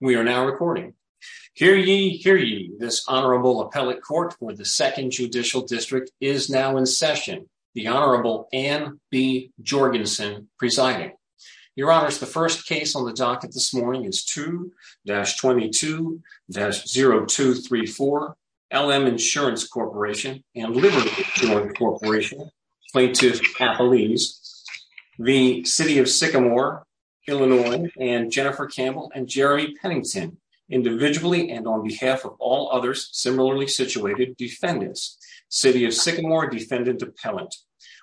We are now recording. Hear ye, hear ye, this Honorable Appellate Court for the Second Judicial District is now in session. The Honorable Anne B. Jorgensen presiding. Your Honors, the first case on the docket this morning is 2-22-0234 LM Insurance Corporation and Liberty Joint Corporation plaintiff appellees, the City of Sycamore, Illinois, and Jennifer Campbell and Jeremy Pennington individually and on behalf of all others similarly situated defendants. City of Sycamore Defendant Appellant.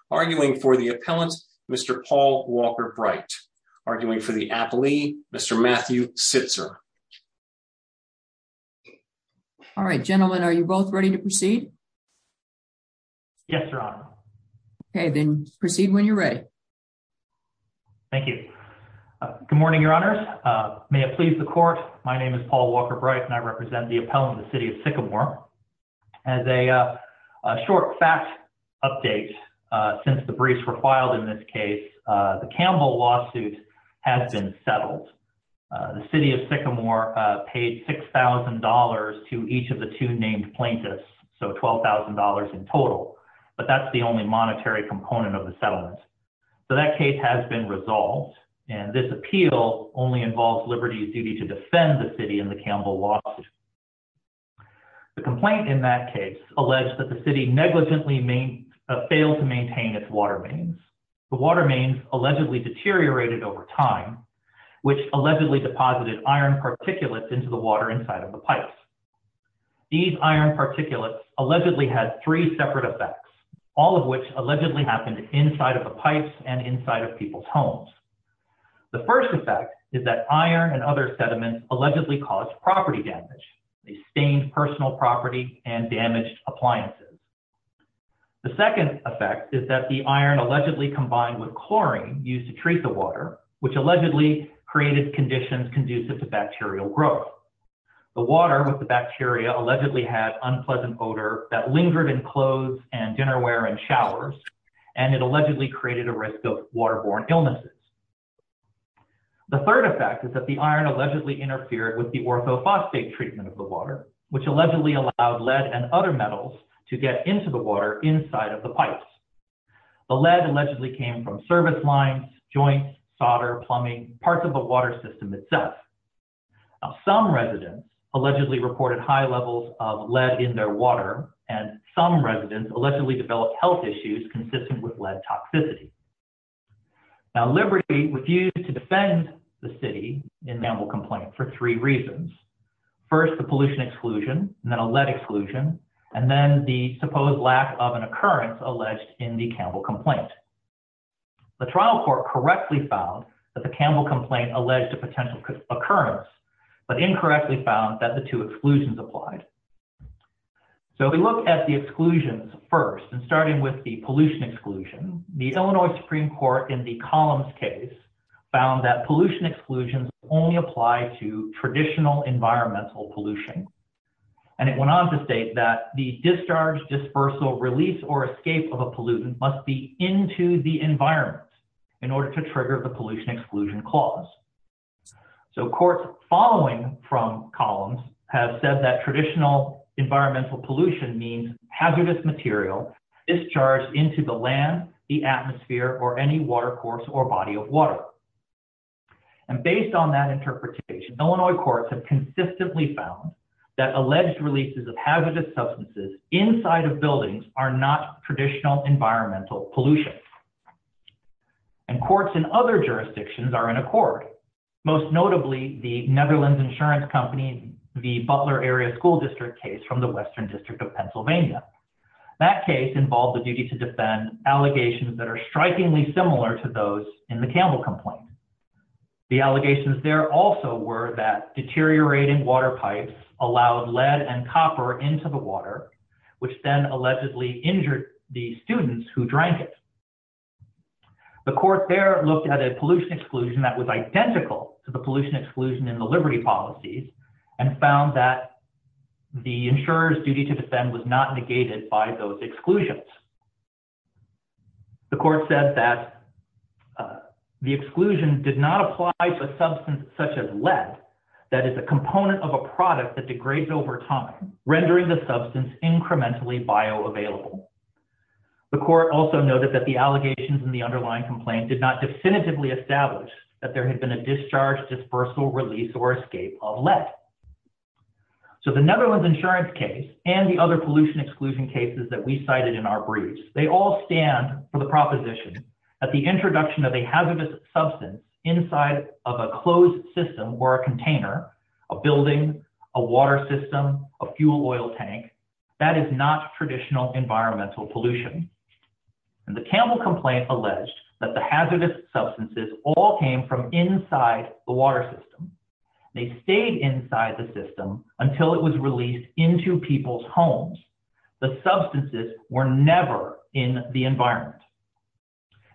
Arguing for the appellant, Mr. Paul Walker-Bright. Arguing for the appellee, Mr. Matthew Sitzer. Yes, Your Honor. Okay, then proceed when you're ready. Thank you. Good morning, Your Honors. May it please the Court. My name is Paul Walker-Bright and I represent the appellant of the City of Sycamore. As a short fact update, since the briefs were filed in this case, the Campbell lawsuit has been settled. The City of Sycamore paid $6,000 to each of the two named plaintiffs, so $12,000 in total. But that's the only monetary component of the settlement. So that case has been resolved and this appeal only involves Liberty's duty to defend the city in the Campbell lawsuit. The complaint in that case alleged that the city negligently failed to maintain its water mains. The water mains allegedly deteriorated over time, which allegedly deposited iron particulates into the water inside of the pipes. These iron particulates allegedly had three separate effects, all of which allegedly happened inside of the pipes and inside of people's homes. The first effect is that iron and other sediments allegedly caused property damage. They stained personal property and damaged appliances. The second effect is that the iron allegedly combined with chlorine used to treat the water, which allegedly created conditions conducive to bacterial growth. The water with the bacteria allegedly had unpleasant odor that lingered in clothes and dinnerware and showers, and it allegedly created a risk of waterborne illnesses. The third effect is that the iron allegedly interfered with the orthophosphate treatment of the water, which allegedly allowed lead and other metals to get into the water inside of the pipes. The lead allegedly came from service lines, joints, solder, plumbing, parts of the water system itself. Some residents allegedly reported high levels of lead in their water, and some residents allegedly developed health issues consistent with lead toxicity. Now, Liberty refused to defend the city in the Campbell complaint for three reasons. First, the pollution exclusion, and then a lead exclusion, and then the supposed lack of an occurrence alleged in the Campbell complaint. The Toronto court correctly found that the Campbell complaint alleged a potential occurrence, but incorrectly found that the two exclusions applied. So if we look at the exclusions first, and starting with the pollution exclusion, the Illinois Supreme Court in the Collins case found that pollution exclusions only apply to traditional environmental pollution. And it went on to state that the discharge, dispersal, release, or escape of a pollutant must be into the environment in order to trigger the pollution exclusion clause. So courts following from Collins have said that traditional environmental pollution means hazardous material discharged into the land, the atmosphere, or any water course or body of water. And based on that interpretation, Illinois courts have consistently found that alleged releases of hazardous substances inside of buildings are not traditional environmental pollution. And courts in other jurisdictions are in accord. Most notably, the Netherlands insurance company, the Butler Area School District case from the Western District of Pennsylvania. That case involved the duty to defend allegations that are strikingly similar to those in the Campbell complaint. The allegations there also were that deteriorating water pipes allowed lead and copper into the water, which then allegedly injured the students who drank it. The court there looked at a pollution exclusion that was identical to the pollution exclusion in the Liberty policies and found that the insurer's duty to defend was not negated by those exclusions. The court said that the exclusion did not apply to a substance such as lead that is a component of a product that degrades over time, rendering the substance incrementally bioavailable. The court also noted that the allegations in the underlying complaint did not definitively establish that there had been a discharge, dispersal, release, or escape of lead. So the Netherlands insurance case and the other pollution exclusion cases that we cited in our briefs, they all stand for the proposition that the introduction of a hazardous substance inside of a closed system or a container, a building, a water system, a fuel oil tank, that is not traditional environmental pollution. The Campbell complaint alleged that the hazardous substances all came from inside the water system. They stayed inside the system until it was released into people's homes. The substances were never in the environment.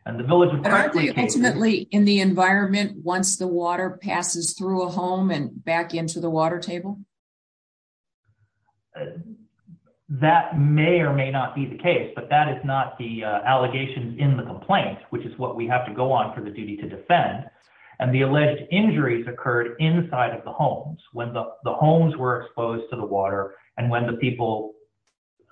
Aren't they ultimately in the environment once the water passes through a home and back into the water table? That may or may not be the case, but that is not the allegations in the complaint, which is what we have to go on for the duty to defend. And the alleged injuries occurred inside of the homes when the homes were exposed to the water and when the people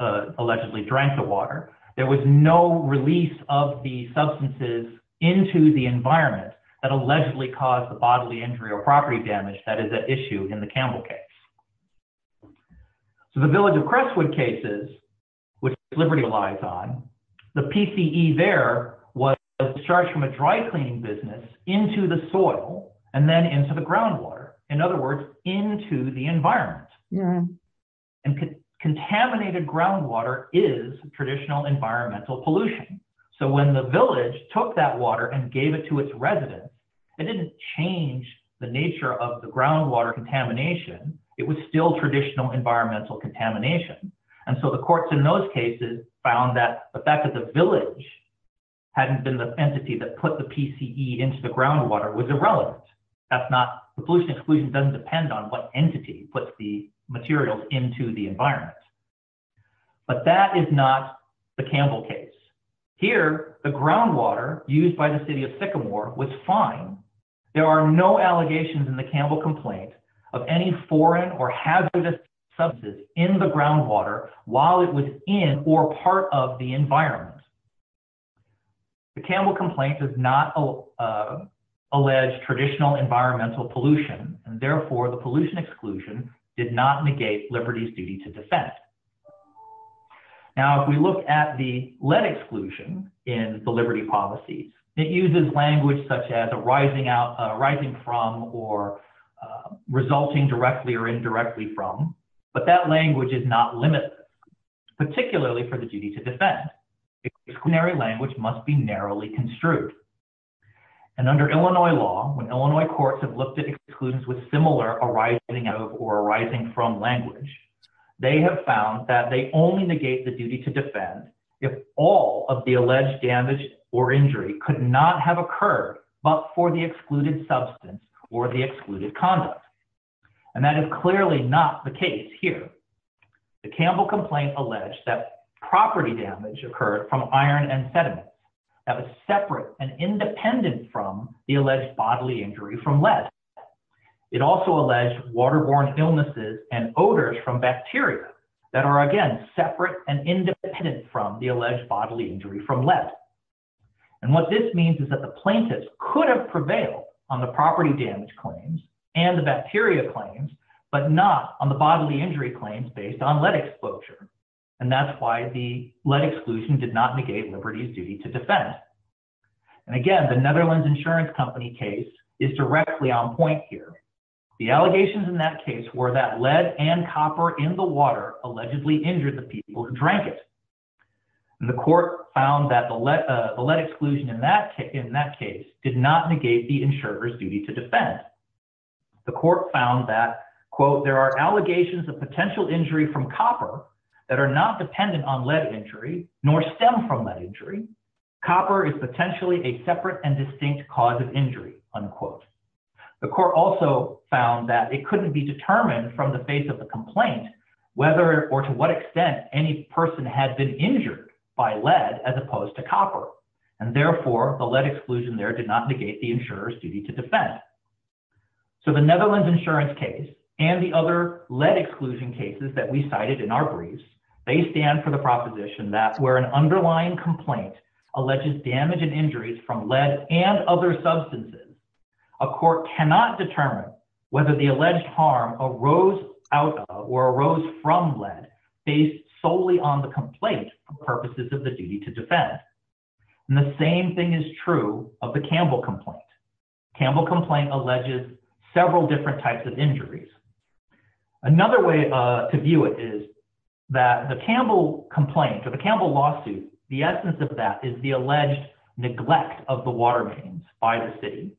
allegedly drank the water. There was no release of the substances into the environment that allegedly caused the bodily injury or property damage that is at issue in the Campbell case. So the Village of Crestwood cases, which Liberty relies on, the PCE there was discharged from a dry cleaning business into the soil and then into the groundwater. In other words, into the environment. And contaminated groundwater is traditional environmental pollution. So when the village took that water and gave it to its residents, it didn't change the nature of the groundwater contamination. It was still traditional environmental contamination. And so the courts in those cases found that the fact that the village hadn't been the entity that put the PCE into the groundwater was irrelevant. The pollution exclusion doesn't depend on what entity puts the materials into the environment. But that is not the Campbell case. Here, the groundwater used by the City of Sycamore was fine. There are no allegations in the Campbell complaint of any foreign or hazardous substances in the groundwater while it was in or part of the environment. The Campbell complaint does not allege traditional environmental pollution, and therefore the pollution exclusion did not negate Liberty's duty to defend. Now, if we look at the lead exclusion in the Liberty policies, it uses language such as arising from or resulting directly or indirectly from, but that language is not limited, particularly for the duty to defend. Exclusionary language must be narrowly construed. And under Illinois law, when Illinois courts have looked at exclusions with similar arising of or arising from language, they have found that they only negate the duty to defend if all of the alleged damage or injury could not have occurred but for the excluded substance or the excluded conduct. And that is clearly not the case here. The Campbell complaint alleged that property damage occurred from iron and sediment that was separate and independent from the alleged bodily injury from lead. It also alleged waterborne illnesses and odors from bacteria that are, again, separate and independent from the alleged bodily injury from lead. And what this means is that the plaintiffs could have prevailed on the property damage claims and the bacteria claims, but not on the bodily injury claims based on lead exposure. And that's why the lead exclusion did not negate Liberty's duty to defend. And again, the Netherlands Insurance Company case is directly on point here. The allegations in that case were that lead and copper in the water allegedly injured the people who drank it. The court found that the lead exclusion in that case did not negate the insurer's duty to defend. The court found that, quote, there are allegations of potential injury from copper that are not dependent on lead injury nor stem from lead injury. Copper is potentially a separate and distinct cause of injury, unquote. The court also found that it couldn't be determined from the face of the complaint whether or to what extent any person had been injured by lead as opposed to copper. And therefore, the lead exclusion there did not negate the insurer's duty to defend. So the Netherlands Insurance case and the other lead exclusion cases that we cited in our briefs, they stand for the proposition that where an underlying complaint alleges damage and injuries from lead and other substances, a court cannot determine whether the alleged harm arose out of or arose from lead based solely on the complaint for purposes of the duty to defend. And the same thing is true of the Campbell complaint. Campbell complaint alleges several different types of injuries. Another way to view it is that the Campbell complaint or the Campbell lawsuit, the essence of that is the alleged neglect of the water mains by the city.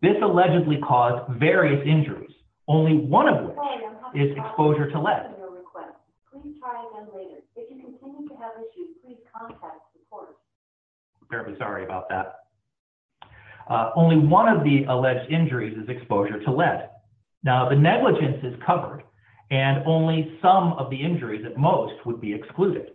This allegedly caused various injuries. Only one of them is exposure to lead. Sorry about that. Only one of the alleged injuries is exposure to lead. Now, the negligence is covered and only some of the injuries at most would be excluded.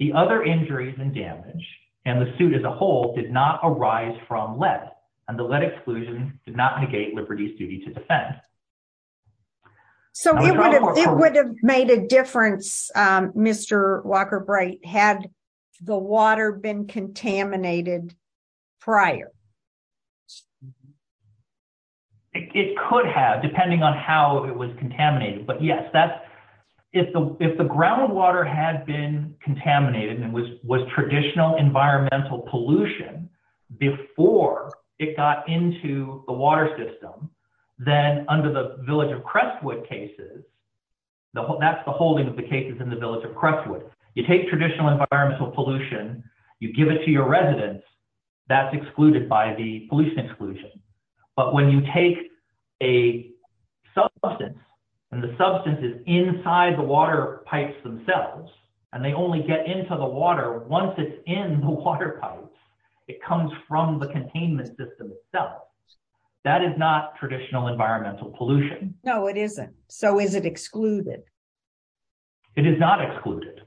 The other injuries and damage and the suit as a whole did not arise from lead and the lead exclusion did not negate Liberty's duty to defend. So it would have made a difference. Mr. Walker Bright had the water been contaminated prior. It could have depending on how it was contaminated. But yes, that's if the if the groundwater had been contaminated and was was traditional environmental pollution before it got into the water system, then under the village of Crestwood cases. That's the holding of the cases in the village of Crestwood. You take traditional environmental pollution. You give it to your residents. That's excluded by the police exclusion. But when you take a substance and the substance is inside the water pipes themselves, and they only get into the water once it's in the water pipes, it comes from the containment system itself. That is not traditional environmental pollution. No, it isn't. So is it excluded. It is not excluded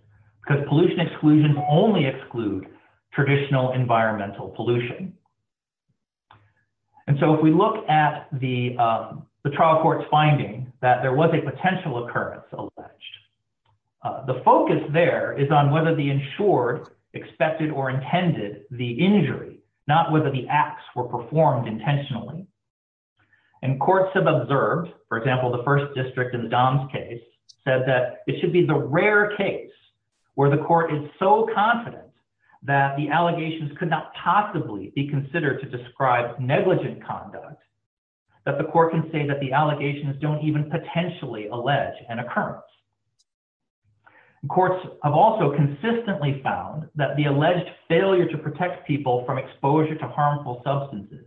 because pollution exclusion only exclude traditional environmental pollution. And so if we look at the trial court's finding that there was a potential occurrence alleged, the focus there is on whether the insured expected or intended the injury, not whether the acts were performed intentionally. And courts have observed, for example, the first district in Dom's case said that it should be the rare case where the court is so confident that the allegations could not possibly be considered to describe negligent conduct that the court can say that the allegations don't even potentially allege an occurrence. Courts have also consistently found that the alleged failure to protect people from exposure to harmful substances,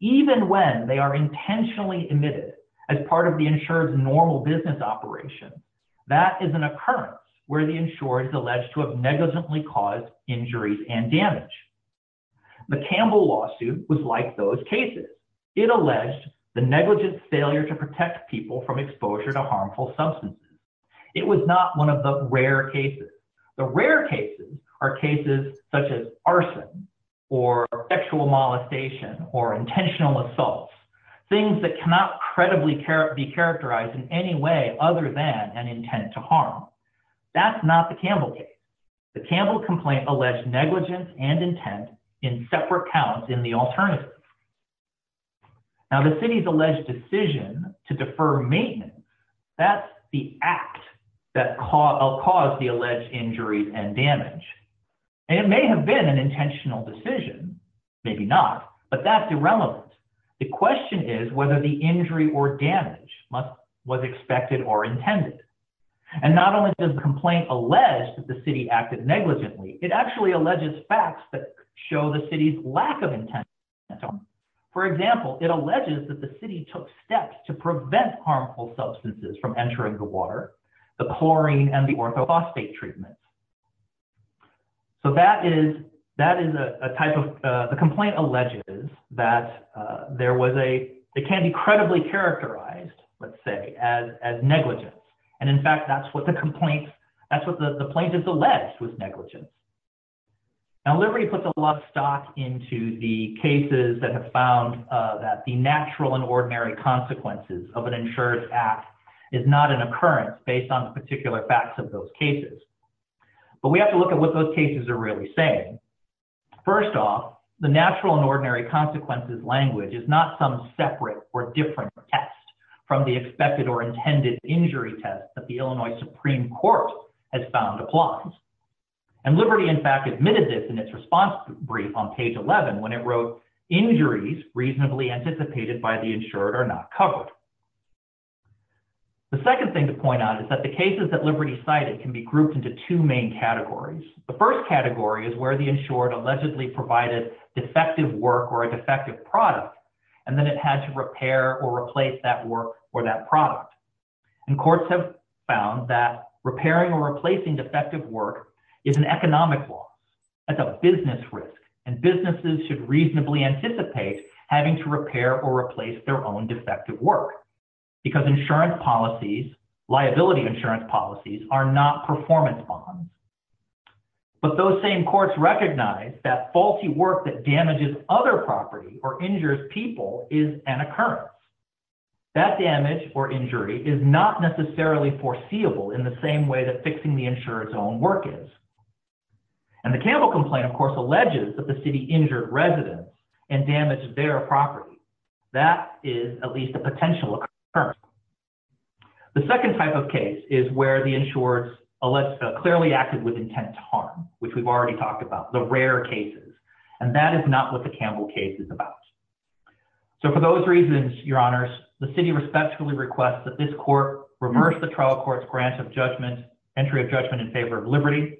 even when they are intentionally admitted as part of the insured's normal business operation, that is an occurrence where the insured is alleged to have negligently caused injuries and damage. The Campbell lawsuit was like those cases. It alleged the negligent failure to protect people from exposure to harmful substances. It was not one of the rare cases. The rare cases are cases such as arson or sexual molestation or intentional assaults, things that cannot credibly be characterized in any way other than an intent to harm. That's not the Campbell case. The Campbell complaint alleged negligence and intent in separate counts in the alternative. Now the city's alleged decision to defer maintenance, that's the act that caused the alleged injuries and damage. It may have been an intentional decision, maybe not, but that's irrelevant. The question is whether the injury or damage was expected or intended. And not only does the complaint allege that the city acted negligently, it actually alleges facts that show the city's lack of intent. For example, it alleges that the city took steps to prevent harmful substances from entering the water, the chlorine and the orthophosphate treatment. So that is a type of – the complaint alleges that there was a – it can't be credibly characterized, let's say, as negligence. And in fact, that's what the complaint – that's what the plaintiff alleged was negligence. Now Liberty puts a lot of stock into the cases that have found that the natural and ordinary consequences of an insured act is not an occurrence based on the particular facts of those cases. But we have to look at what those cases are really saying. First off, the natural and ordinary consequences language is not some separate or different test from the expected or intended injury test that the Illinois Supreme Court has found applies. And Liberty, in fact, admitted this in its response brief on page 11 when it wrote, injuries reasonably anticipated by the insured are not covered. The second thing to point out is that the cases that Liberty cited can be grouped into two main categories. The first category is where the insured allegedly provided defective work or a defective product, and then it had to repair or replace that work or that product. And courts have found that repairing or replacing defective work is an economic loss. That's a business risk, and businesses should reasonably anticipate having to repair or replace their own defective work because insurance policies, liability insurance policies, are not performance bonds. But those same courts recognize that faulty work that damages other property or injures people is an occurrence. That damage or injury is not necessarily foreseeable in the same way that fixing the insured's own work is. And the Campbell complaint, of course, alleges that the city injured residents and damaged their property. That is at least a potential occurrence. The second type of case is where the insured clearly acted with intent to harm, which we've already talked about, the rare cases. And that is not what the Campbell case is about. So, for those reasons, your honors, the city respectfully requests that this court reverse the trial court's grant of judgment, entry of judgment in favor of Liberty.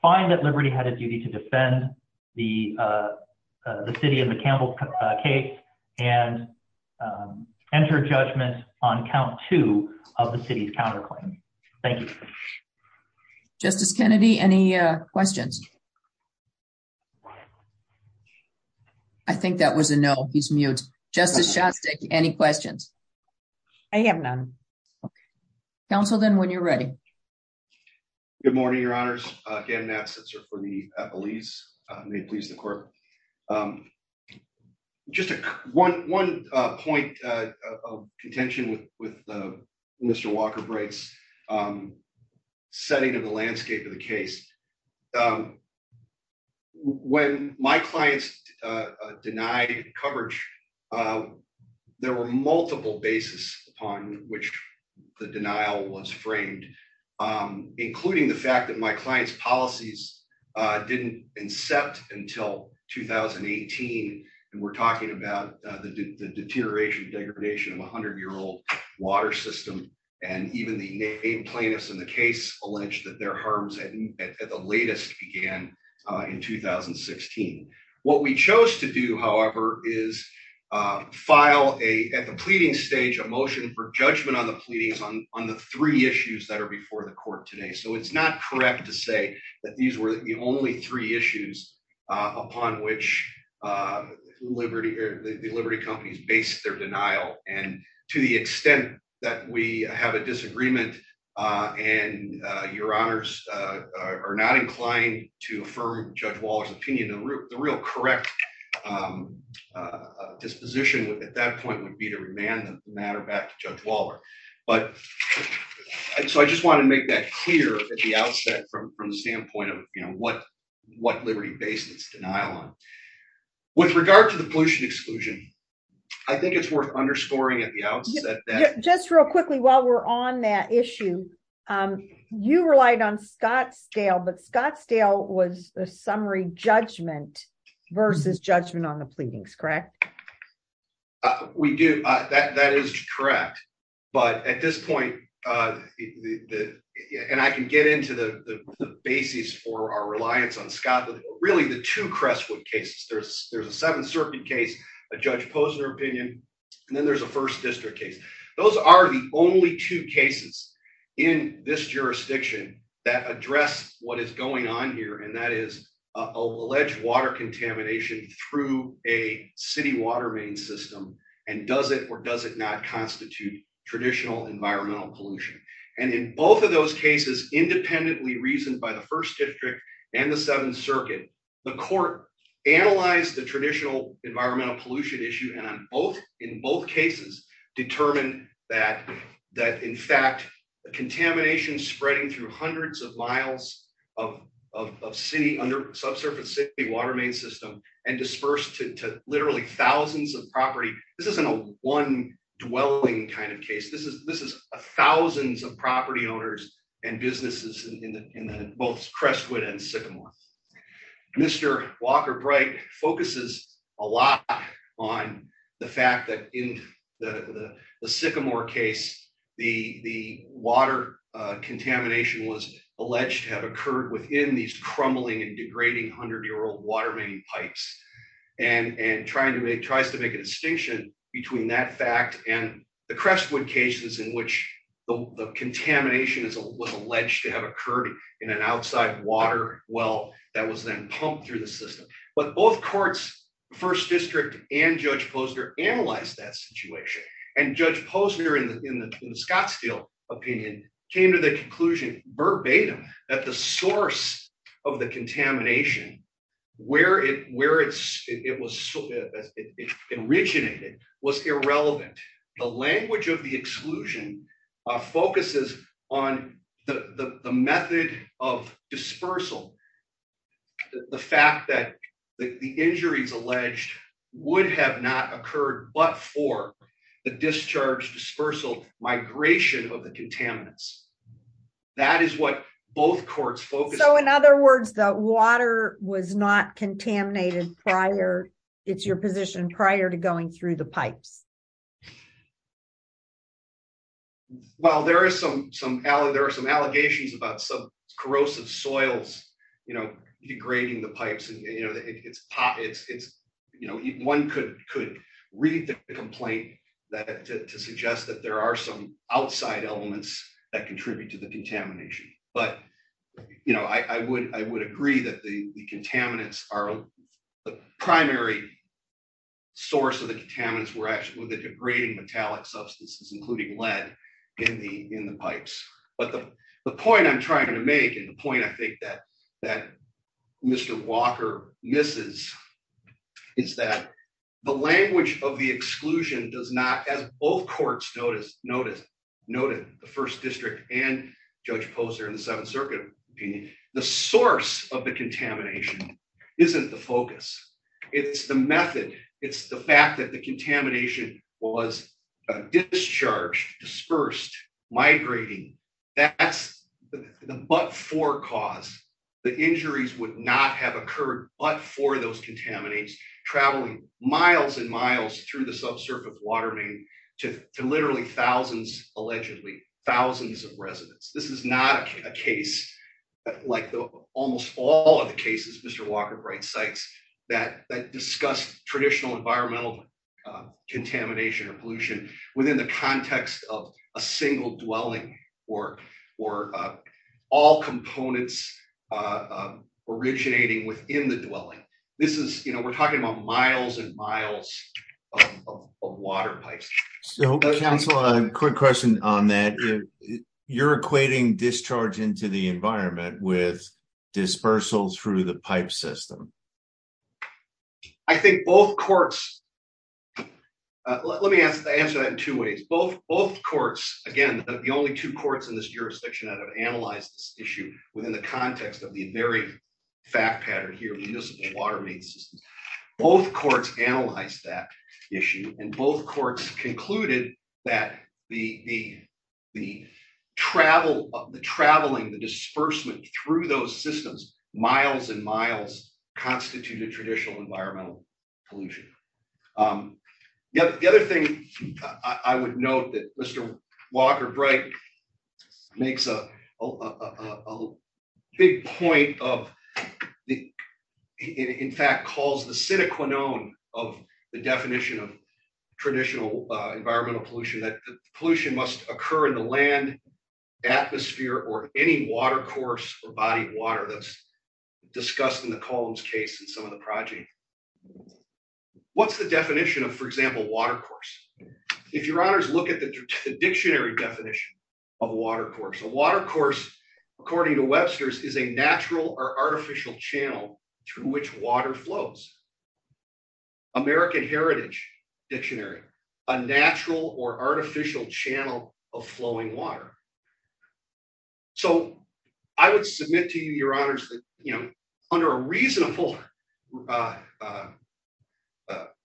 Find that Liberty had a duty to defend the city in the Campbell case and enter judgment on count two of the city's counterclaim. Thank you. Justice Kennedy, any questions? I think that was a no. He's mute. Justice Shostak, any questions? I have none. Counsel, then, when you're ready. Good morning, your honors. Again, that's for the police. May it please the court. Just one point of contention with Mr. Walker Bright's setting of the landscape of the case. When my clients denied coverage, there were multiple bases upon which the denial was framed, including the fact that my client's policies didn't incept until 2018. And we're talking about the deterioration, degradation of a hundred-year-old water system. And even the plaintiffs in the case alleged that their harms at the latest began in 2016. What we chose to do, however, is file at the pleading stage a motion for judgment on the pleadings on the three issues that are before the court today. So it's not correct to say that these were the only three issues upon which the Liberty companies based their denial. And to the extent that we have a disagreement and your honors are not inclined to affirm Judge Waller's opinion, the real correct disposition at that point would be to remand the matter back to Judge Waller. So I just want to make that clear at the outset from the standpoint of what Liberty based its denial on. With regard to the pollution exclusion, I think it's worth underscoring at the outset that... Just real quickly while we're on that issue, you relied on Scottsdale, but Scottsdale was a summary judgment versus judgment on the pleadings, correct? We do. That is correct. But at this point, and I can get into the basis for our reliance on Scott, but really the two Crestwood cases, there's a Seventh Circuit case, a Judge Posner opinion, and then there's a First District case. Those are the only two cases in this jurisdiction that address what is going on here, and that is alleged water contamination through a city water main system. And does it or does it not constitute traditional environmental pollution? And in both of those cases, independently reasoned by the First District and the Seventh Circuit, the court analyzed the traditional environmental pollution issue. And in both cases determined that in fact, the contamination spreading through hundreds of miles of city under subsurface city water main system and dispersed to literally thousands of property. This isn't a one dwelling kind of case. This is thousands of property owners and businesses in both Crestwood and Sycamore. Mr. Walker Bright focuses a lot on the fact that in the Sycamore case, the water contamination was alleged to have occurred within these crumbling and degrading hundred year old water main pipes. And tries to make a distinction between that fact and the Crestwood cases in which the contamination was alleged to have occurred in an outside water well that was then pumped through the system. But both courts, First District and Judge Posner analyzed that situation. And Judge Posner in the Scottsdale opinion came to the conclusion verbatim that the source of the contamination, where it originated, was irrelevant. The language of the exclusion focuses on the method of dispersal. The fact that the injuries alleged would have not occurred but for the discharge dispersal migration of the contaminants. That is what both courts focus. So in other words, the water was not contaminated prior. It's your position prior to going through the pipes. Well, there are some allegations about some corrosive soils, you know, degrading the pipes and you know it's hot, it's, it's, you know, one could could read the complaint that to suggest that there are some outside elements that contribute to the contamination, but, you know, I would, I would agree that the contaminants are the primary source of the contaminants were actually the degrading metallic substances including lead in the, in the pipes, but the point I'm trying to make and the point I think that that Mr. Walker, this is, is that the language of the exclusion does not as both courts notice, notice, notice, the First District and Judge Poser in the Seventh Circuit, the source of the contamination isn't the focus. It's the method. It's the fact that the contamination was discharged dispersed migrating. That's the but for cause the injuries would not have occurred, but for those contaminants traveling miles and miles through the subsurface water main to literally thousands allegedly thousands of residents, this is not a case. Like the almost all of the cases Mr Walker bright sites that that discussed traditional environmental contamination or pollution within the context of a single dwelling, or, or all components originating within the dwelling. This is, you know, we're talking about miles and miles of water pipes. So, a quick question on that you're equating discharge into the environment with dispersals through the pipe system. I think both courts. Let me ask the answer that in two ways both both courts, again, the only two courts in this jurisdiction that have analyzed this issue within the context of the very fact pattern here municipal water main systems. Both courts analyze that issue and both courts concluded that the, the, the travel of the traveling the disbursement through those systems, miles and miles constitute a traditional environmental pollution. Yep. The other thing I would note that Mr. Walker bright makes a big point of the, in fact, calls the cynical known of the definition of traditional environmental pollution that pollution must occur in the land atmosphere or any water course or body of water that's discussed in the columns case and some of the project. What's the definition of for example water course. If your honors look at the dictionary definition of water course of water course, according to Webster's is a natural or artificial channel to which water flows. American Heritage dictionary, a natural or artificial channel of flowing water. So, I would submit to you your honors that, you know, under a reasonable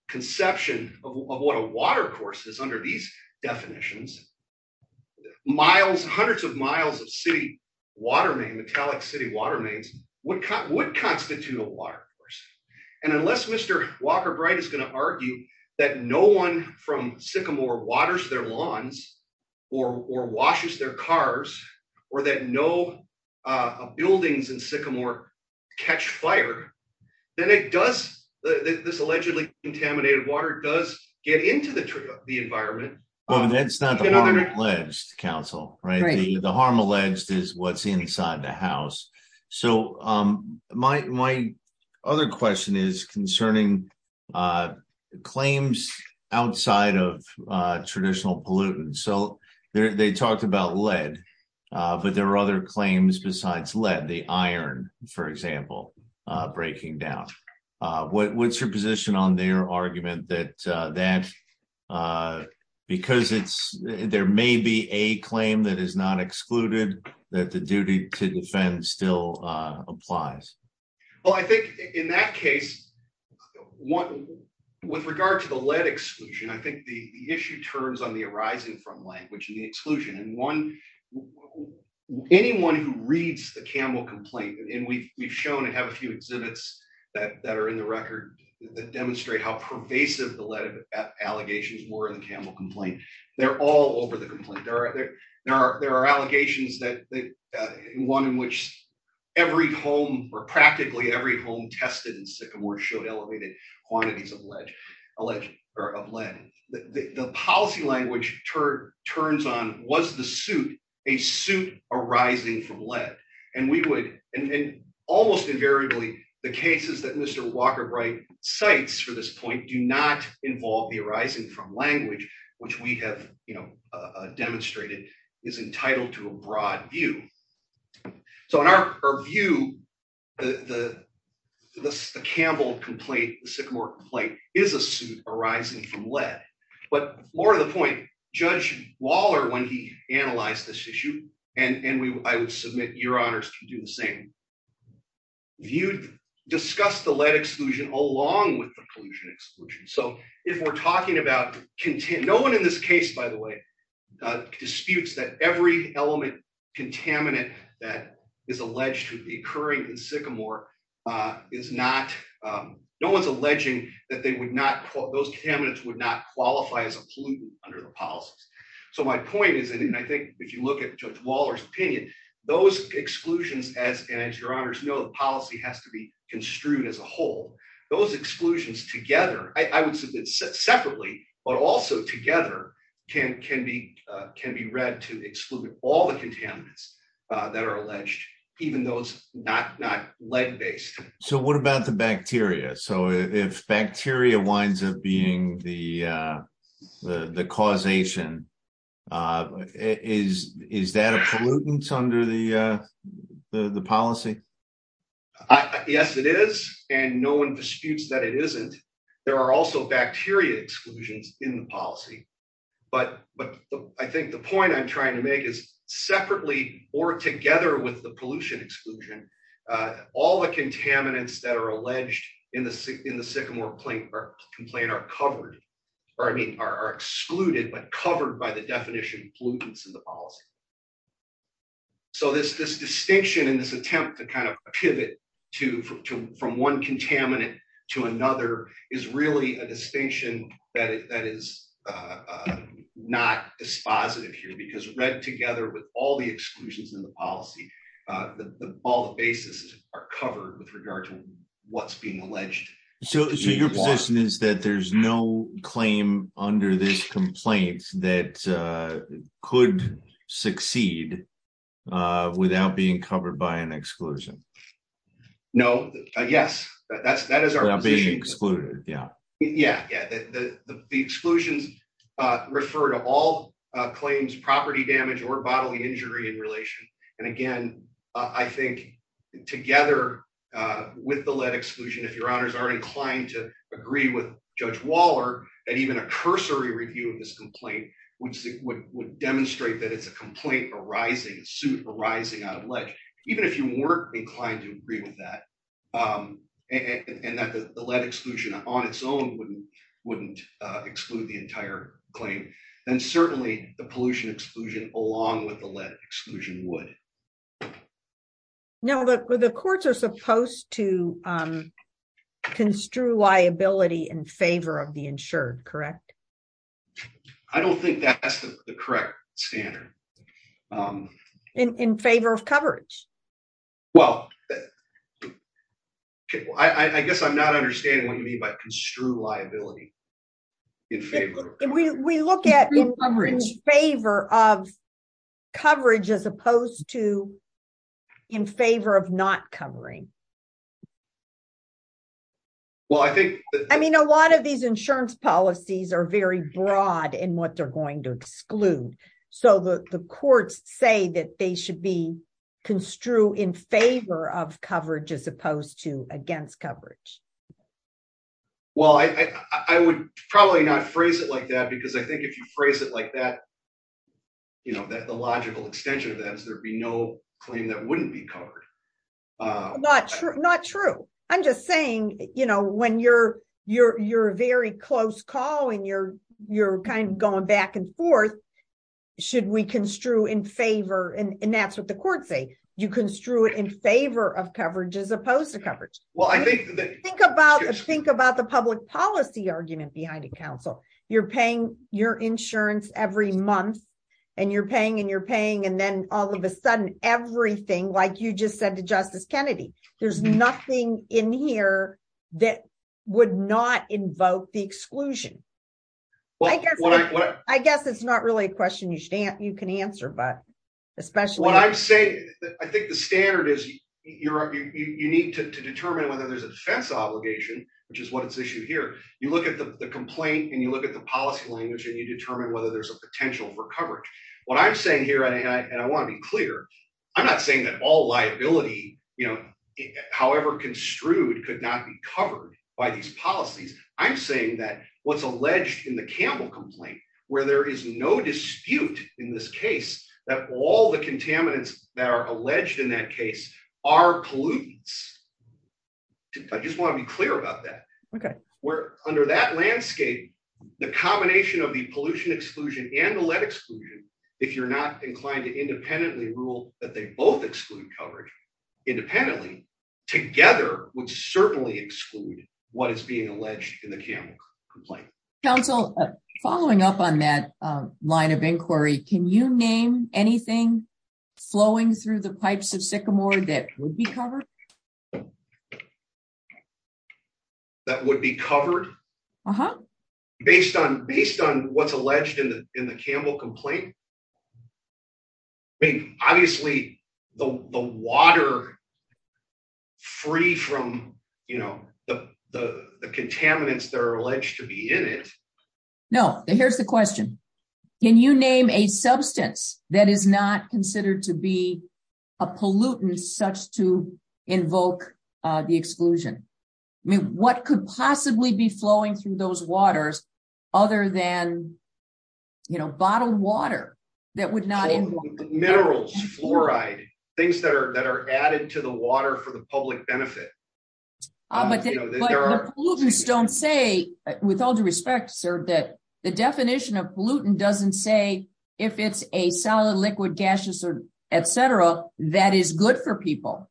conception of what a water courses under these definitions miles hundreds of miles of sea water main metallic city water mains would cut would constitute a water course. And unless Mr. Walker bright is going to argue that no one from sycamore waters their lawns or washes their cars, or that no buildings in sycamore catch fire. Then it does this allegedly contaminated water does get into the, the environment. Well, that's not alleged counsel, right, the harm alleged is what's inside the house. So, my, my other question is concerning claims outside of traditional pollutants so they talked about lead, but there are other claims besides lead the iron, for example, breaking down. What's your position on their argument that that because it's, there may be a claim that is not excluded that the duty to defend still applies. Well, I think, in that case, one with regard to the lead exclusion I think the issue turns on the arising from language and the exclusion and one anyone who reads the camel complaint and we've shown and have a few exhibits that that are in the record that demonstrate how pervasive the lead allegations were in the camel complaint. They're all over the complaint there are there are there are allegations that one in which every home or practically every home tested and sycamore showed elevated quantities of lead alleged sites for this point do not involve the arising from language, which we have, you know, demonstrated is entitled to a broad view. So in our view, the, the, the Campbell complaint sycamore plate is a suit arising from lead, but more to the point, Judge Waller when he analyzed this issue, and we, I would submit your honors to do the same. Discuss the lead exclusion, along with the pollution exclusion so if we're talking about content no one in this case, by the way, disputes that every element contaminant, that is alleged to be occurring in sycamore is not. No one's alleging that they would not call those candidates would not qualify as a pollutant under the policies. So my point is, and I think if you look at Waller's opinion, those exclusions as as your honors know the policy has to be construed as a whole, those exclusions together, I would submit separately, but also together can can be can be read to exclude all the contaminants that are alleged, even those not not lead based. So what about the bacteria so if bacteria winds up being the, the causation is, is that a pollutant under the, the policy. Yes, it is, and no one disputes that it isn't. There are also bacteria exclusions in the policy, but, but I think the point I'm trying to make is separately, or together with the pollution exclusion. All the contaminants that are alleged in the, in the sycamore plate or complain are covered, or I mean are excluded but covered by the definition pollutants in the policy. So this this distinction in this attempt to kind of pivot to from one contaminant to another is really a distinction that is not dispositive here because read together with all the exclusions in the policy. All the basis are covered with regard to what's being alleged. So your position is that there's no claim under this complaint that could succeed without being covered by an exclusion. No, yes, that's that is our being excluded. Yeah, yeah, yeah, the exclusions refer to all claims property damage or bodily injury in relation. And again, I think, together with the lead exclusion if your honors are inclined to agree with Judge that and that the lead exclusion on its own wouldn't wouldn't exclude the entire claim, and certainly the pollution exclusion, along with the lead exclusion would know that the courts are supposed to construe liability in favor of the insured correct. I don't think that's the correct standard. In favor of coverage. Well, I guess I'm not understanding what you mean by construe liability in favor, we look at coverage favor of coverage as opposed to in favor of not covering. Well, I think, I mean a lot of these insurance policies are very broad and what they're going to exclude. So the courts say that they should be construed in favor of coverage as opposed to against coverage. Well, I would probably not phrase it like that because I think if you phrase it like that. You know that the logical extension of that is there be no claim that wouldn't be covered. Not true, not true. I'm just saying, you know, when you're, you're, you're very close call and you're, you're kind of going back and forth. Should we construe in favor and that's what the courts say you construe it in favor of coverage as opposed to coverage. Well, I think, think about think about the public policy argument behind a council, you're paying your insurance every month, and you're paying and you're paying and then all of a sudden, everything like you just said to Justice Kennedy, there's nothing in here that would not invoke the exclusion. Well, I guess what I guess it's not really a question you stand, you can answer but especially when I say that I think the standard is you're, you need to determine whether there's a defense obligation, which is what it's issued here, you look at the complaint and you look at the policy language and you determine whether there's a potential for coverage. What I'm saying here and I want to be clear. I'm not saying that all liability, you know, however construed could not be covered by these policies. I'm saying that what's alleged in the Campbell complaint, where there is no dispute in this case that all the contaminants that are alleged in that case are pollutants. I just want to be clear about that. Okay, we're under that landscape, the combination of the pollution exclusion analytics. If you're not inclined to independently rule that they both exclude covered independently together would certainly exclude what is being alleged in the campaign complaint, Council, following up on that line of inquiry, can you name anything flowing through the pipes of sycamore that would be covered. Based on based on what's alleged in the, in the Campbell complaint. I mean, obviously, the water, free from, you know, the contaminants that are alleged to be in it. No, here's the question. Can you name a substance that is not considered to be a pollutant such to invoke the exclusion. I mean, what could possibly be flowing through those waters, other than, you know, bottled water, that would not have minerals fluoride, things that are that are added to the water for the public benefit. But pollutants don't say, with all due respect, sir, that the definition of pollutant doesn't say, if it's a solid liquid gaseous or etc. That is good for people.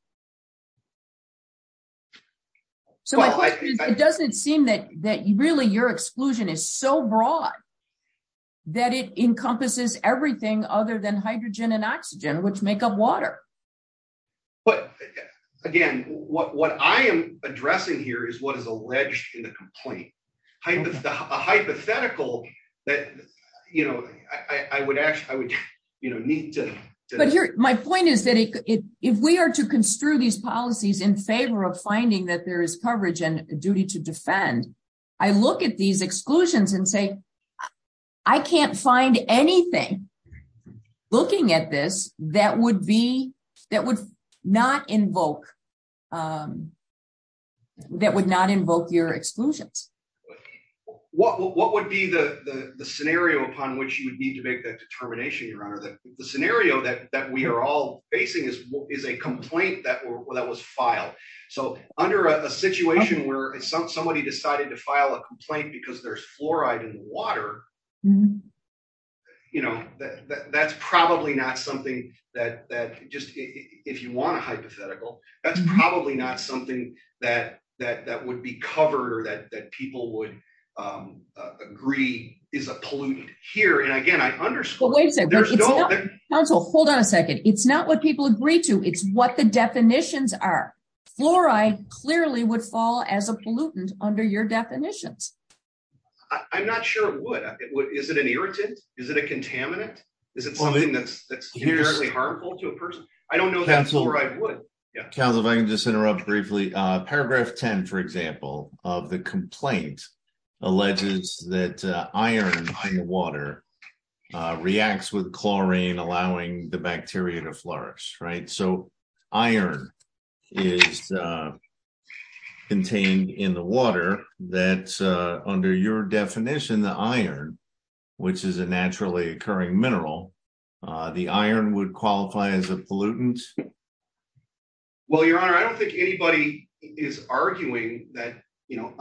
So it doesn't seem that that you really your exclusion is so broad that it encompasses everything other than hydrogen and oxygen which make up water. But, again, what I am addressing here is what is alleged in the complaint. A hypothetical that, you know, I would actually I would, you know, need to. But here, my point is that if we are to construe these policies in favor of finding that there is coverage and duty to defend. I look at these exclusions and say, I can't find anything. Looking at this, that would be that would not invoke that would not invoke your exclusions. What would be the scenario upon which you would need to make that determination your honor that the scenario that that we are all facing is what is a complaint that were that was filed. So, under a situation where somebody decided to file a complaint because there's fluoride and water. You know that that's probably not something that that just if you want a hypothetical that's probably not something that that that would be covered or that that people would agree is a polluted here and again I underscore wait a second. Hold on a second. It's not what people agree to it's what the definitions are fluoride clearly would fall as a pollutant under your definitions. I'm not sure what is it an irritant. Is it a contaminant. Is it something that's harmful to a person. I don't know. Council if I can just interrupt briefly paragraph 10 for example of the complaint alleges that iron water reacts with chlorine allowing the bacteria to flourish right so iron is contained in the water that under your definition the iron, which is a naturally occurring mineral. The iron would qualify as a pollutant. Well, Your Honor, I don't think anybody is arguing that, you know,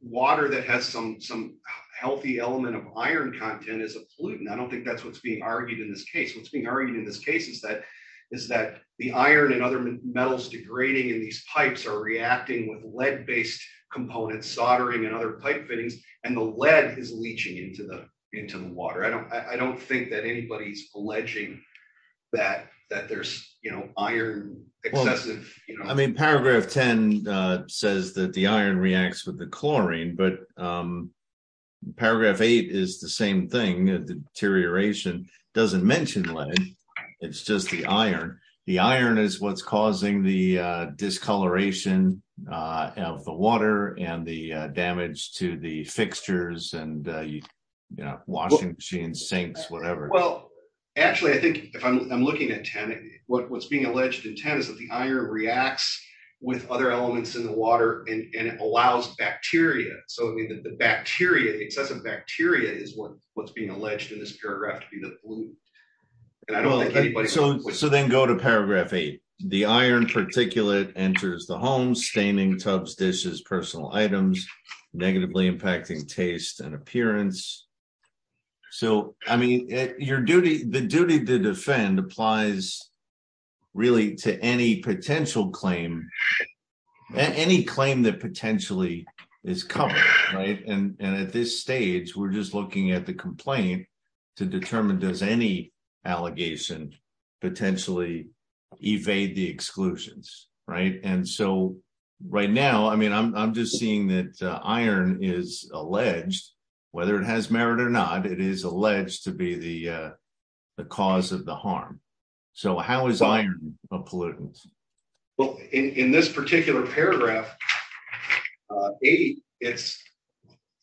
water that has some some healthy element of iron content is a pollutant I don't think that's what's being argued in this case what's being argued in this case is that is that the iron and other metals degrading in these pipes are reacting with lead based components soldering and other pipe fittings, and the lead is leaching into the, into the water I don't I don't think that anybody is arguing that. I don't think anybody's alleging that, that there's, you know, iron, excessive. I mean paragraph 10 says that the iron reacts with the chlorine but paragraph eight is the same thing deterioration doesn't mention lead. It's just the iron, the iron is what's causing the discoloration of the water and the damage to the fixtures and, you know, washing machine sinks, whatever. Well, actually I think if I'm looking at 10, what's being alleged in 10 is that the iron reacts with other elements in the water, and it allows bacteria, so I mean that the bacteria excessive bacteria is what what's being alleged in this paragraph to be the blue. So, so then go to paragraph eight, the iron particulate enters the home staining tubs dishes personal items, negatively impacting taste and appearance. So, I mean, your duty, the duty to defend applies, really, to any potential claim any claim that potentially is coming right and at this stage we're just looking at the complaint to determine does any allegation potentially evade the exclusions. Right. And so right now I mean I'm just seeing that iron is alleged, whether it has merit or not it is alleged to be the cause of the harm. So how is iron pollutants. Well, in this particular paragraph. It's,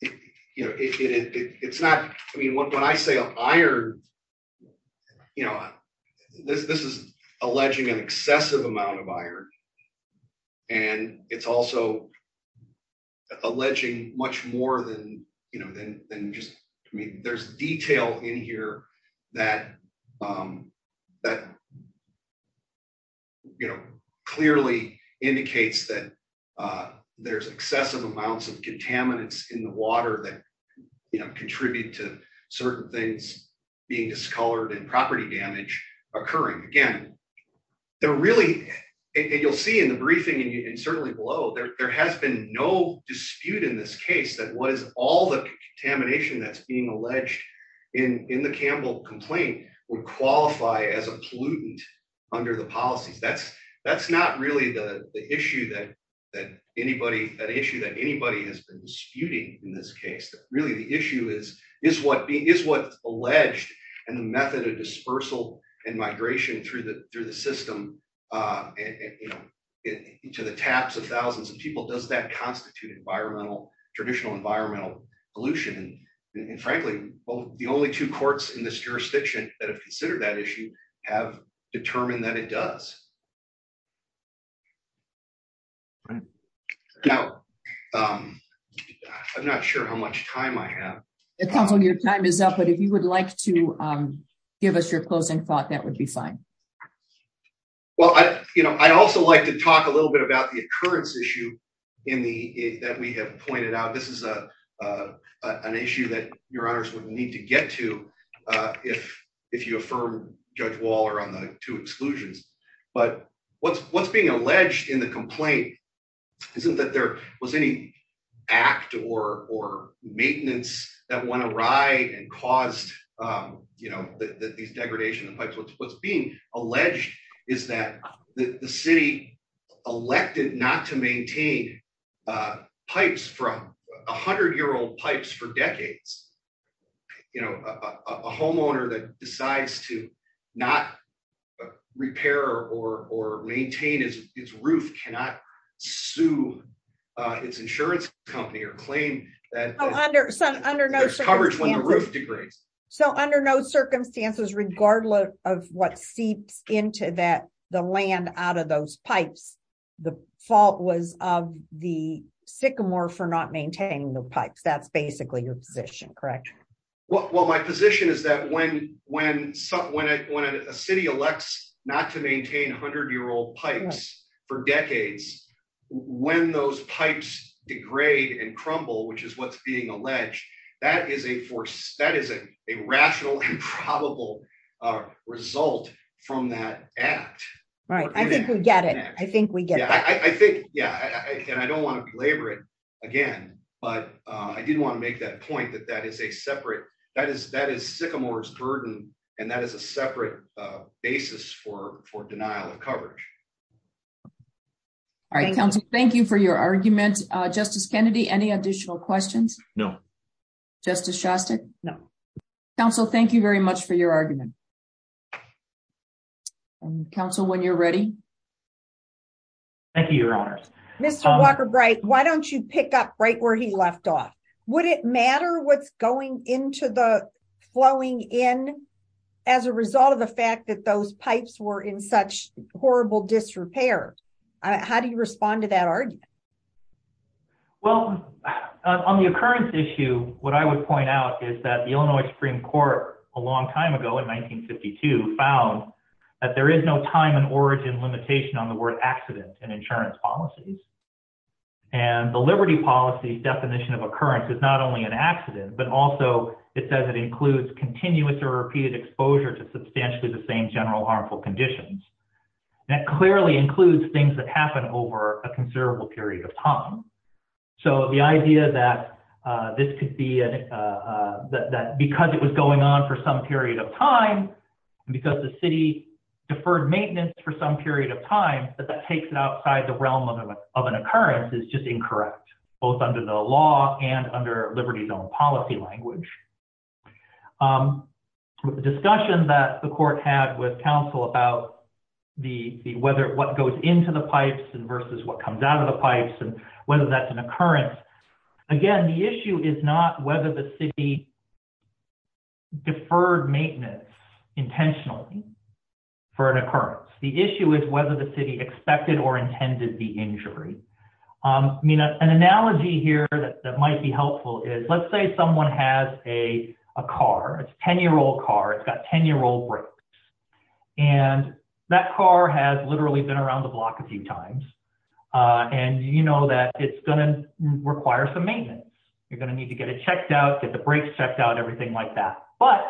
you know, it's not, I mean what when I say iron. You know, this is alleging an excessive amount of iron. And it's also alleging much more than, you know, than, than just me there's detail in here that That You know, clearly indicates that there's excessive amounts of contaminants in the water that you know contribute to certain things being discolored and property damage occurring again. They're really, you'll see in the briefing and certainly below there, there has been no dispute in this case that what is all the contamination that's being alleged in the Campbell complaint would qualify as a pollutant under the policies that's that's not really the issue that that anybody that issue that anybody has been disputing in this case that really the issue is, is what is what alleged and the method of dispersal and migration through the, through the system, and into the taps of thousands of people does that constitute environmental traditional environmental pollution and, and frankly, the only two courts in this jurisdiction that have considered that issue have determined that it does. Now, I'm not sure how much time I have. Your time is up but if you would like to give us your closing thought that would be fine. Well, I, you know, I also like to talk a little bit about the occurrence issue in the, that we have pointed out this is a, an issue that your honors would need to get to. If, if you affirm Judge Waller on the two exclusions, but what's what's being alleged in the complaint. Isn't that there was any act or or maintenance that want to ride and caused, you know, that these degradation and pipes what's what's being alleged is that the city elected not to maintain pipes from 100 year old pipes for decades. You know, a homeowner that decides to not repair or or maintain is its roof cannot sue its insurance company or claim that under some under no coverage when the roof degrades. So under no circumstances regardless of what seeps into that the land out of those pipes. The fault was of the sycamore for not maintaining the pipes that's basically your position, correct. Well, my position is that when, when, when, when a city elects not to maintain hundred year old pipes for decades, when those pipes degrade and crumble which is what's being alleged, that is a force that is a rational and probable result from that. Right, I think we get it. I think we get it. I think, yeah, and I don't want to belabor it again, but I didn't want to make that point that that is a separate, that is that is sycamores burden, and that is a separate basis for for denial of coverage. All right, Council, thank you for your argument. Justice Kennedy any additional questions. No. Justice Shasta. No. Council, thank you very much for your argument. Council when you're ready. Thank you, Your Honors, Mr. Walker bright, why don't you pick up right where he left off. Would it matter what's going into the flowing in. As a result of the fact that those pipes were in such horrible disrepair. How do you respond to that argument. Well, on the occurrence issue, what I would point out is that the Illinois Supreme Court, a long time ago in 1952 found that there is no time and origin limitation on the word accidents and insurance policies. And the liberty policy definition of occurrence is not only an accident, but also it says it includes continuous or repeated exposure to substantially the same general harmful conditions. That clearly includes things that happen over a considerable period of time. So the idea that this could be that because it was going on for some period of time. Because the city deferred maintenance for some period of time, but that takes it outside the realm of an occurrence is just incorrect, both under the law and under liberty zone policy language. Discussion that the court had with counsel about the whether what goes into the pipes and versus what comes out of the pipes and whether that's an occurrence. Again, the issue is not whether the city deferred maintenance intentionally for an occurrence. The issue is whether the city expected or intended the injury. I mean, an analogy here that might be helpful is let's say someone has a car. It's a 10 year old car. It's got 10 year old brakes. And that car has literally been around the block a few times. And you know that it's going to require some maintenance. You're going to need to get it checked out, get the brakes checked out, everything like that. But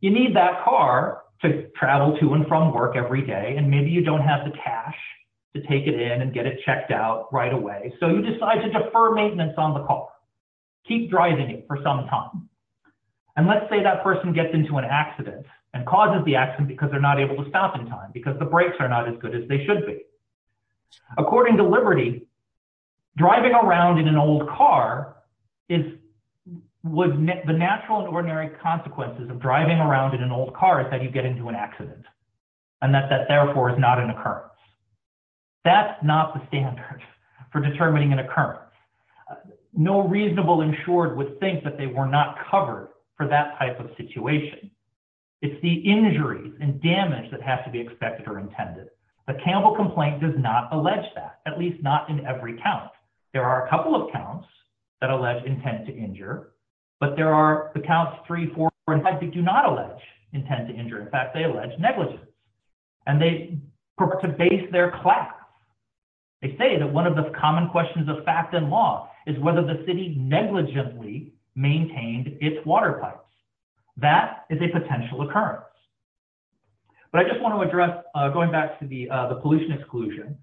you need that car to travel to and from work every day and maybe you don't have the cash to take it in and get it checked out right away. So you decide to defer maintenance on the car. Keep driving it for some time. And let's say that person gets into an accident and causes the accident because they're not able to stop in time because the brakes are not as good as they should be. According to Liberty, driving around in an old car is what the natural and ordinary consequences of driving around in an old car is that you get into an accident and that that therefore is not an occurrence. That's not the standard for determining an occurrence. No reasonable insured would think that they were not covered for that type of situation. It's the injuries and damage that has to be expected or intended. The Campbell complaint does not allege that, at least not in every count. There are a couple of counts that allege intent to injure, but there are the counts 3, 4, and 5 that do not allege intent to injure. In fact, they allege negligence. And they base their class. They say that one of the common questions of fact and law is whether the city negligently maintained its water pipes. That is a potential occurrence. But I just want to address, going back to the pollution exclusion,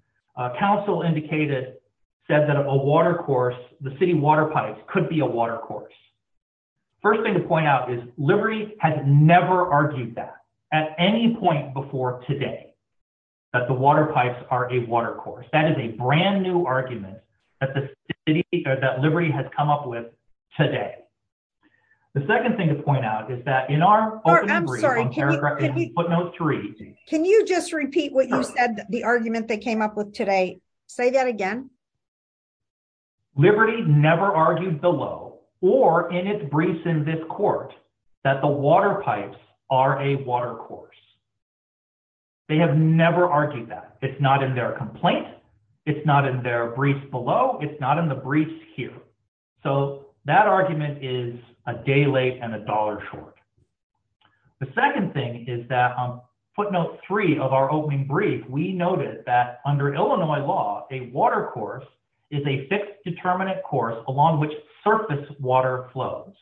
council indicated, said that a water course, the city water pipes could be a water course. First thing to point out is Liberty has never argued that at any point before today that the water pipes are a water course. That is a brand new argument that Liberty has come up with today. The second thing to point out is that in our... I'm sorry, can you just repeat what you said, the argument they came up with today. Say that again. Liberty never argued below or in its briefs in this court that the water pipes are a water course. They have never argued that. It's not in their complaint. It's not in their briefs below. It's not in the briefs here. So that argument is a day late and a dollar short. The second thing is that footnote three of our opening brief, we noted that under Illinois law, a water course is a fixed determinant course along which surface water flows.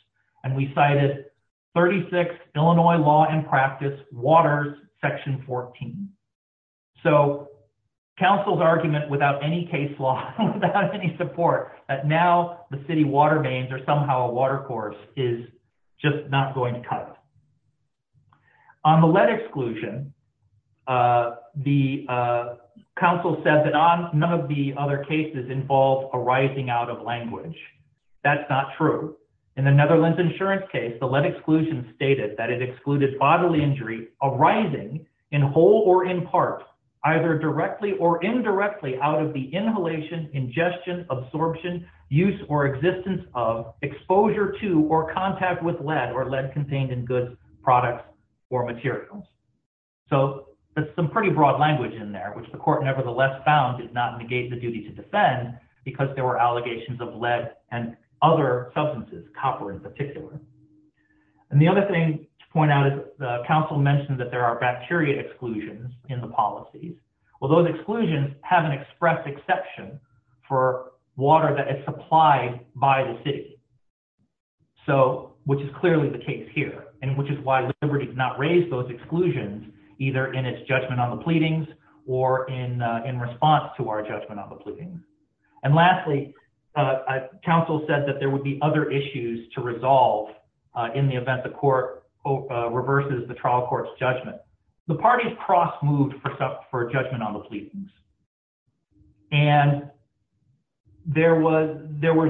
And we cited 36 Illinois law and practice waters section 14. So council's argument without any case law, without any support, that now the city water mains are somehow a water course is just not going to cut it. On the lead exclusion, the council said that none of the other cases involve a rising out of language. That's not true. In the Netherlands insurance case, the lead exclusion stated that it excluded bodily injury arising in whole or in part, either directly or indirectly out of the inhalation, ingestion, absorption, use, or existence of exposure to or contact with lead or lead contained in goods, products, or materials. So that's some pretty broad language in there, which the court nevertheless found did not negate the duty to defend because there were allegations of lead and other substances, copper in particular. And the other thing to point out is the council mentioned that there are bacteria exclusions in the policies. Well, those exclusions have an express exception for water that is supplied by the city, which is clearly the case here, and which is why Liberty did not raise those exclusions either in its judgment on the pleadings or in response to our judgment on the pleadings. And lastly, council said that there would be other issues to resolve in the event the court reverses the trial court's judgment. The parties cross-moved for judgment on the pleadings, and there was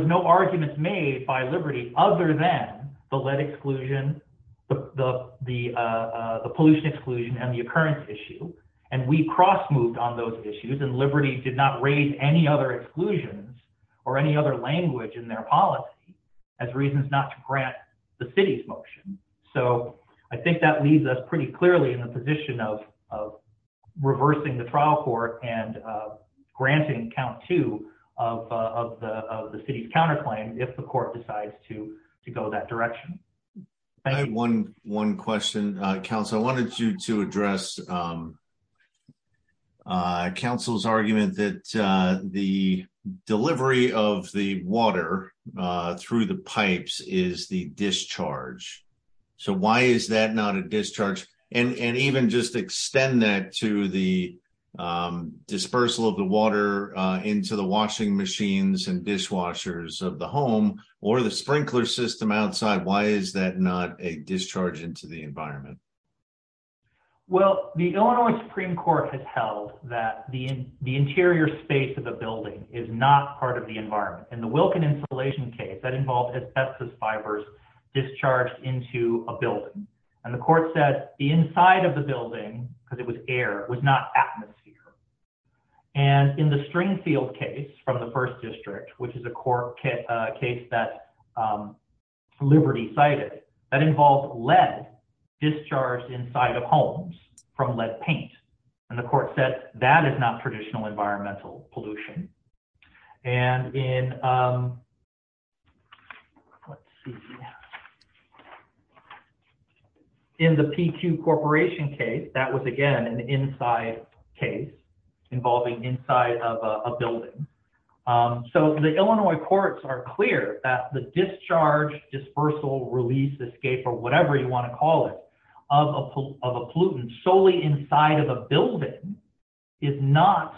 no arguments made by Liberty other than the lead exclusion, the pollution exclusion, and the occurrence issue. And we cross-moved on those issues, and Liberty did not raise any other exclusions or any other language in their policy as reasons not to grant the city's motion. So I think that leaves us pretty clearly in the position of reversing the trial court and granting count two of the city's counterclaim if the court decides to go that direction. One question, council. I wanted to address council's argument that the delivery of the water through the pipes is the discharge. So why is that not a discharge? And even just extend that to the dispersal of the water into the washing machines and dishwashers of the home or the sprinkler system outside, why is that not a discharge into the environment? Well, the Illinois Supreme Court has held that the interior space of a building is not part of the environment. In the Wilkin insulation case, that involved asbestos fibers discharged into a building. And the court said the inside of the building, because it was air, was not atmosphere. And in the Stringfield case from the First District, which is a court case that Liberty cited, that involved lead discharged inside of homes from lead paint. And the court said that is not traditional environmental pollution. And in the PQ Corporation case, that was again an inside case involving inside of a building. So the Illinois courts are clear that the discharge, dispersal, release, escape, or whatever you want to call it, of a pollutant solely inside of a building is not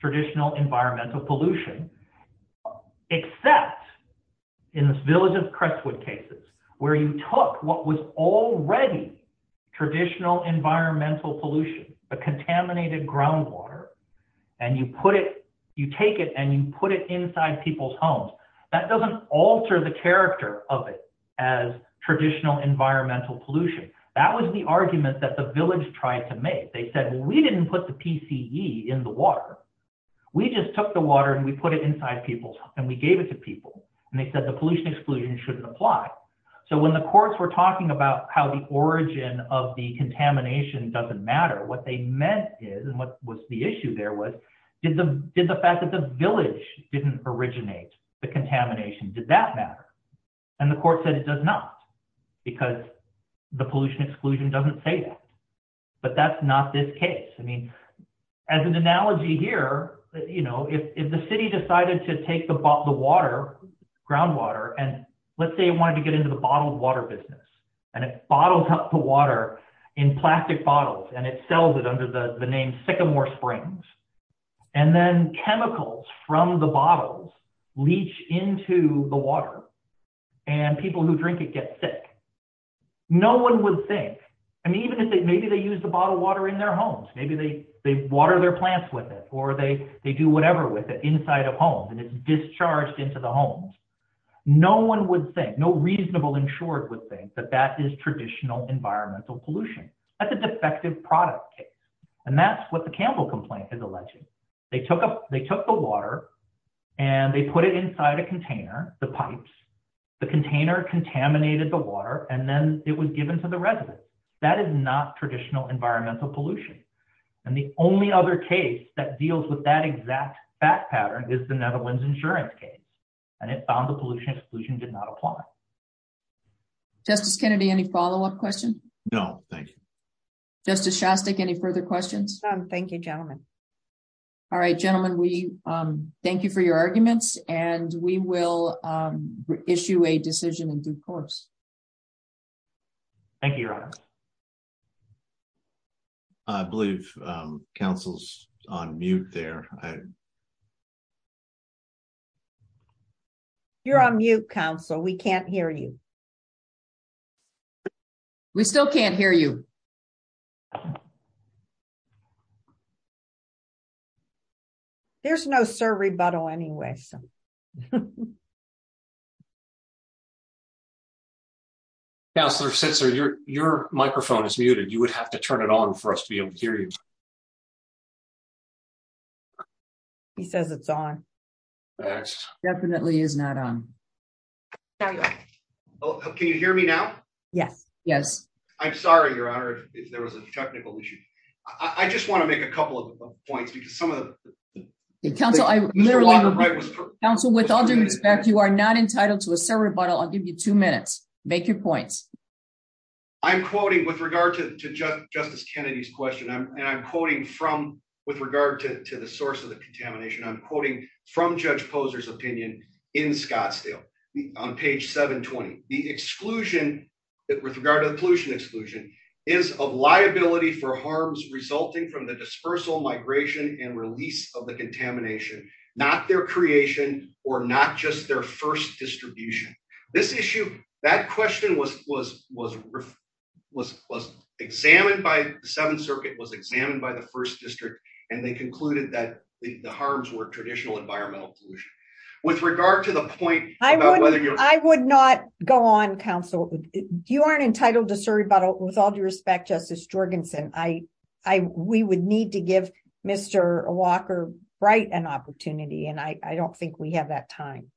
traditional environmental pollution. Except in this village of Crestwood cases, where you took what was already traditional environmental pollution, the contaminated groundwater, and you take it and you put it inside people's homes. That doesn't alter the character of it as traditional environmental pollution. That was the argument that the village tried to make. They said, well, we didn't put the PCE in the water. We just took the water and we put it inside people's homes and we gave it to people. And they said the pollution exclusion shouldn't apply. So when the courts were talking about how the origin of the contamination doesn't matter, what they meant is, and what was the issue there was, did the fact that the village didn't originate the contamination, did that matter? And the court said it does not, because the pollution exclusion doesn't say that. But that's not this case. I mean, as an analogy here, if the city decided to take the water, groundwater, and let's say it wanted to get into the bottled water business, and it bottles up the water in plastic bottles, and it sells it under the name Sycamore Springs, and then chemicals from the bottles leach into the water, and people who drink it get sick. No one would think, I mean, even if they, maybe they use the bottled water in their homes, maybe they water their plants with it, or they do whatever with it inside of homes, and it's discharged into the homes. No one would think, no reasonable insured would think that that is traditional environmental pollution. That's a defective product case. And that's what the Campbell complaint is alleging. They took the water, and they put it inside a container, the pipes, the container contaminated the water, and then it was given to the residents. That is not traditional environmental pollution. And the only other case that deals with that exact fact pattern is the Netherlands insurance case. And it found the pollution exclusion did not apply. Justice Kennedy, any follow up question? No, thank you. Justice Shostak, any further questions? Thank you, gentlemen. All right, gentlemen, we thank you for your arguments, and we will issue a decision in due course. Thank you, Your Honor. I believe Council's on mute there. You're on mute Council, we can't hear you. We still can't hear you. There's no sir rebuttal anyway, so. Councilor Sitzer, your, your microphone is muted, you would have to turn it on for us to be able to hear you. He says it's on. Definitely is not on. Can you hear me now. Yes, yes. I'm sorry, Your Honor. I just want to make a couple of points because some of the council. Council with all due respect, you are not entitled to a sir rebuttal I'll give you two minutes, make your points. I'm quoting with regard to justice Kennedy's question I'm quoting from with regard to the source of the contamination I'm quoting from Judge Posers opinion in Scottsdale on page 720, the exclusion that with regard to the pollution exclusion is a liability for was, was, was, was examined by the Seventh Circuit was examined by the first district, and they concluded that the harms were traditional environmental pollution. With regard to the point, I would, I would not go on Council, you aren't entitled to sir rebuttal with all due respect justice Jorgensen I, I, we would need to give Mr. Walker right an opportunity and I don't think we have that time.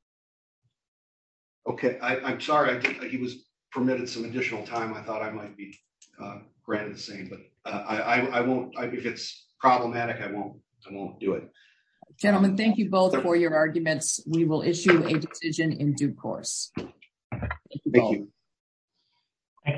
Okay, I'm sorry he was permitted some additional time I thought I might be granted the same but I won't, if it's problematic I won't, I won't do it. Gentlemen, thank you both for your arguments, we will issue a decision in due course. Thank you. Thank you.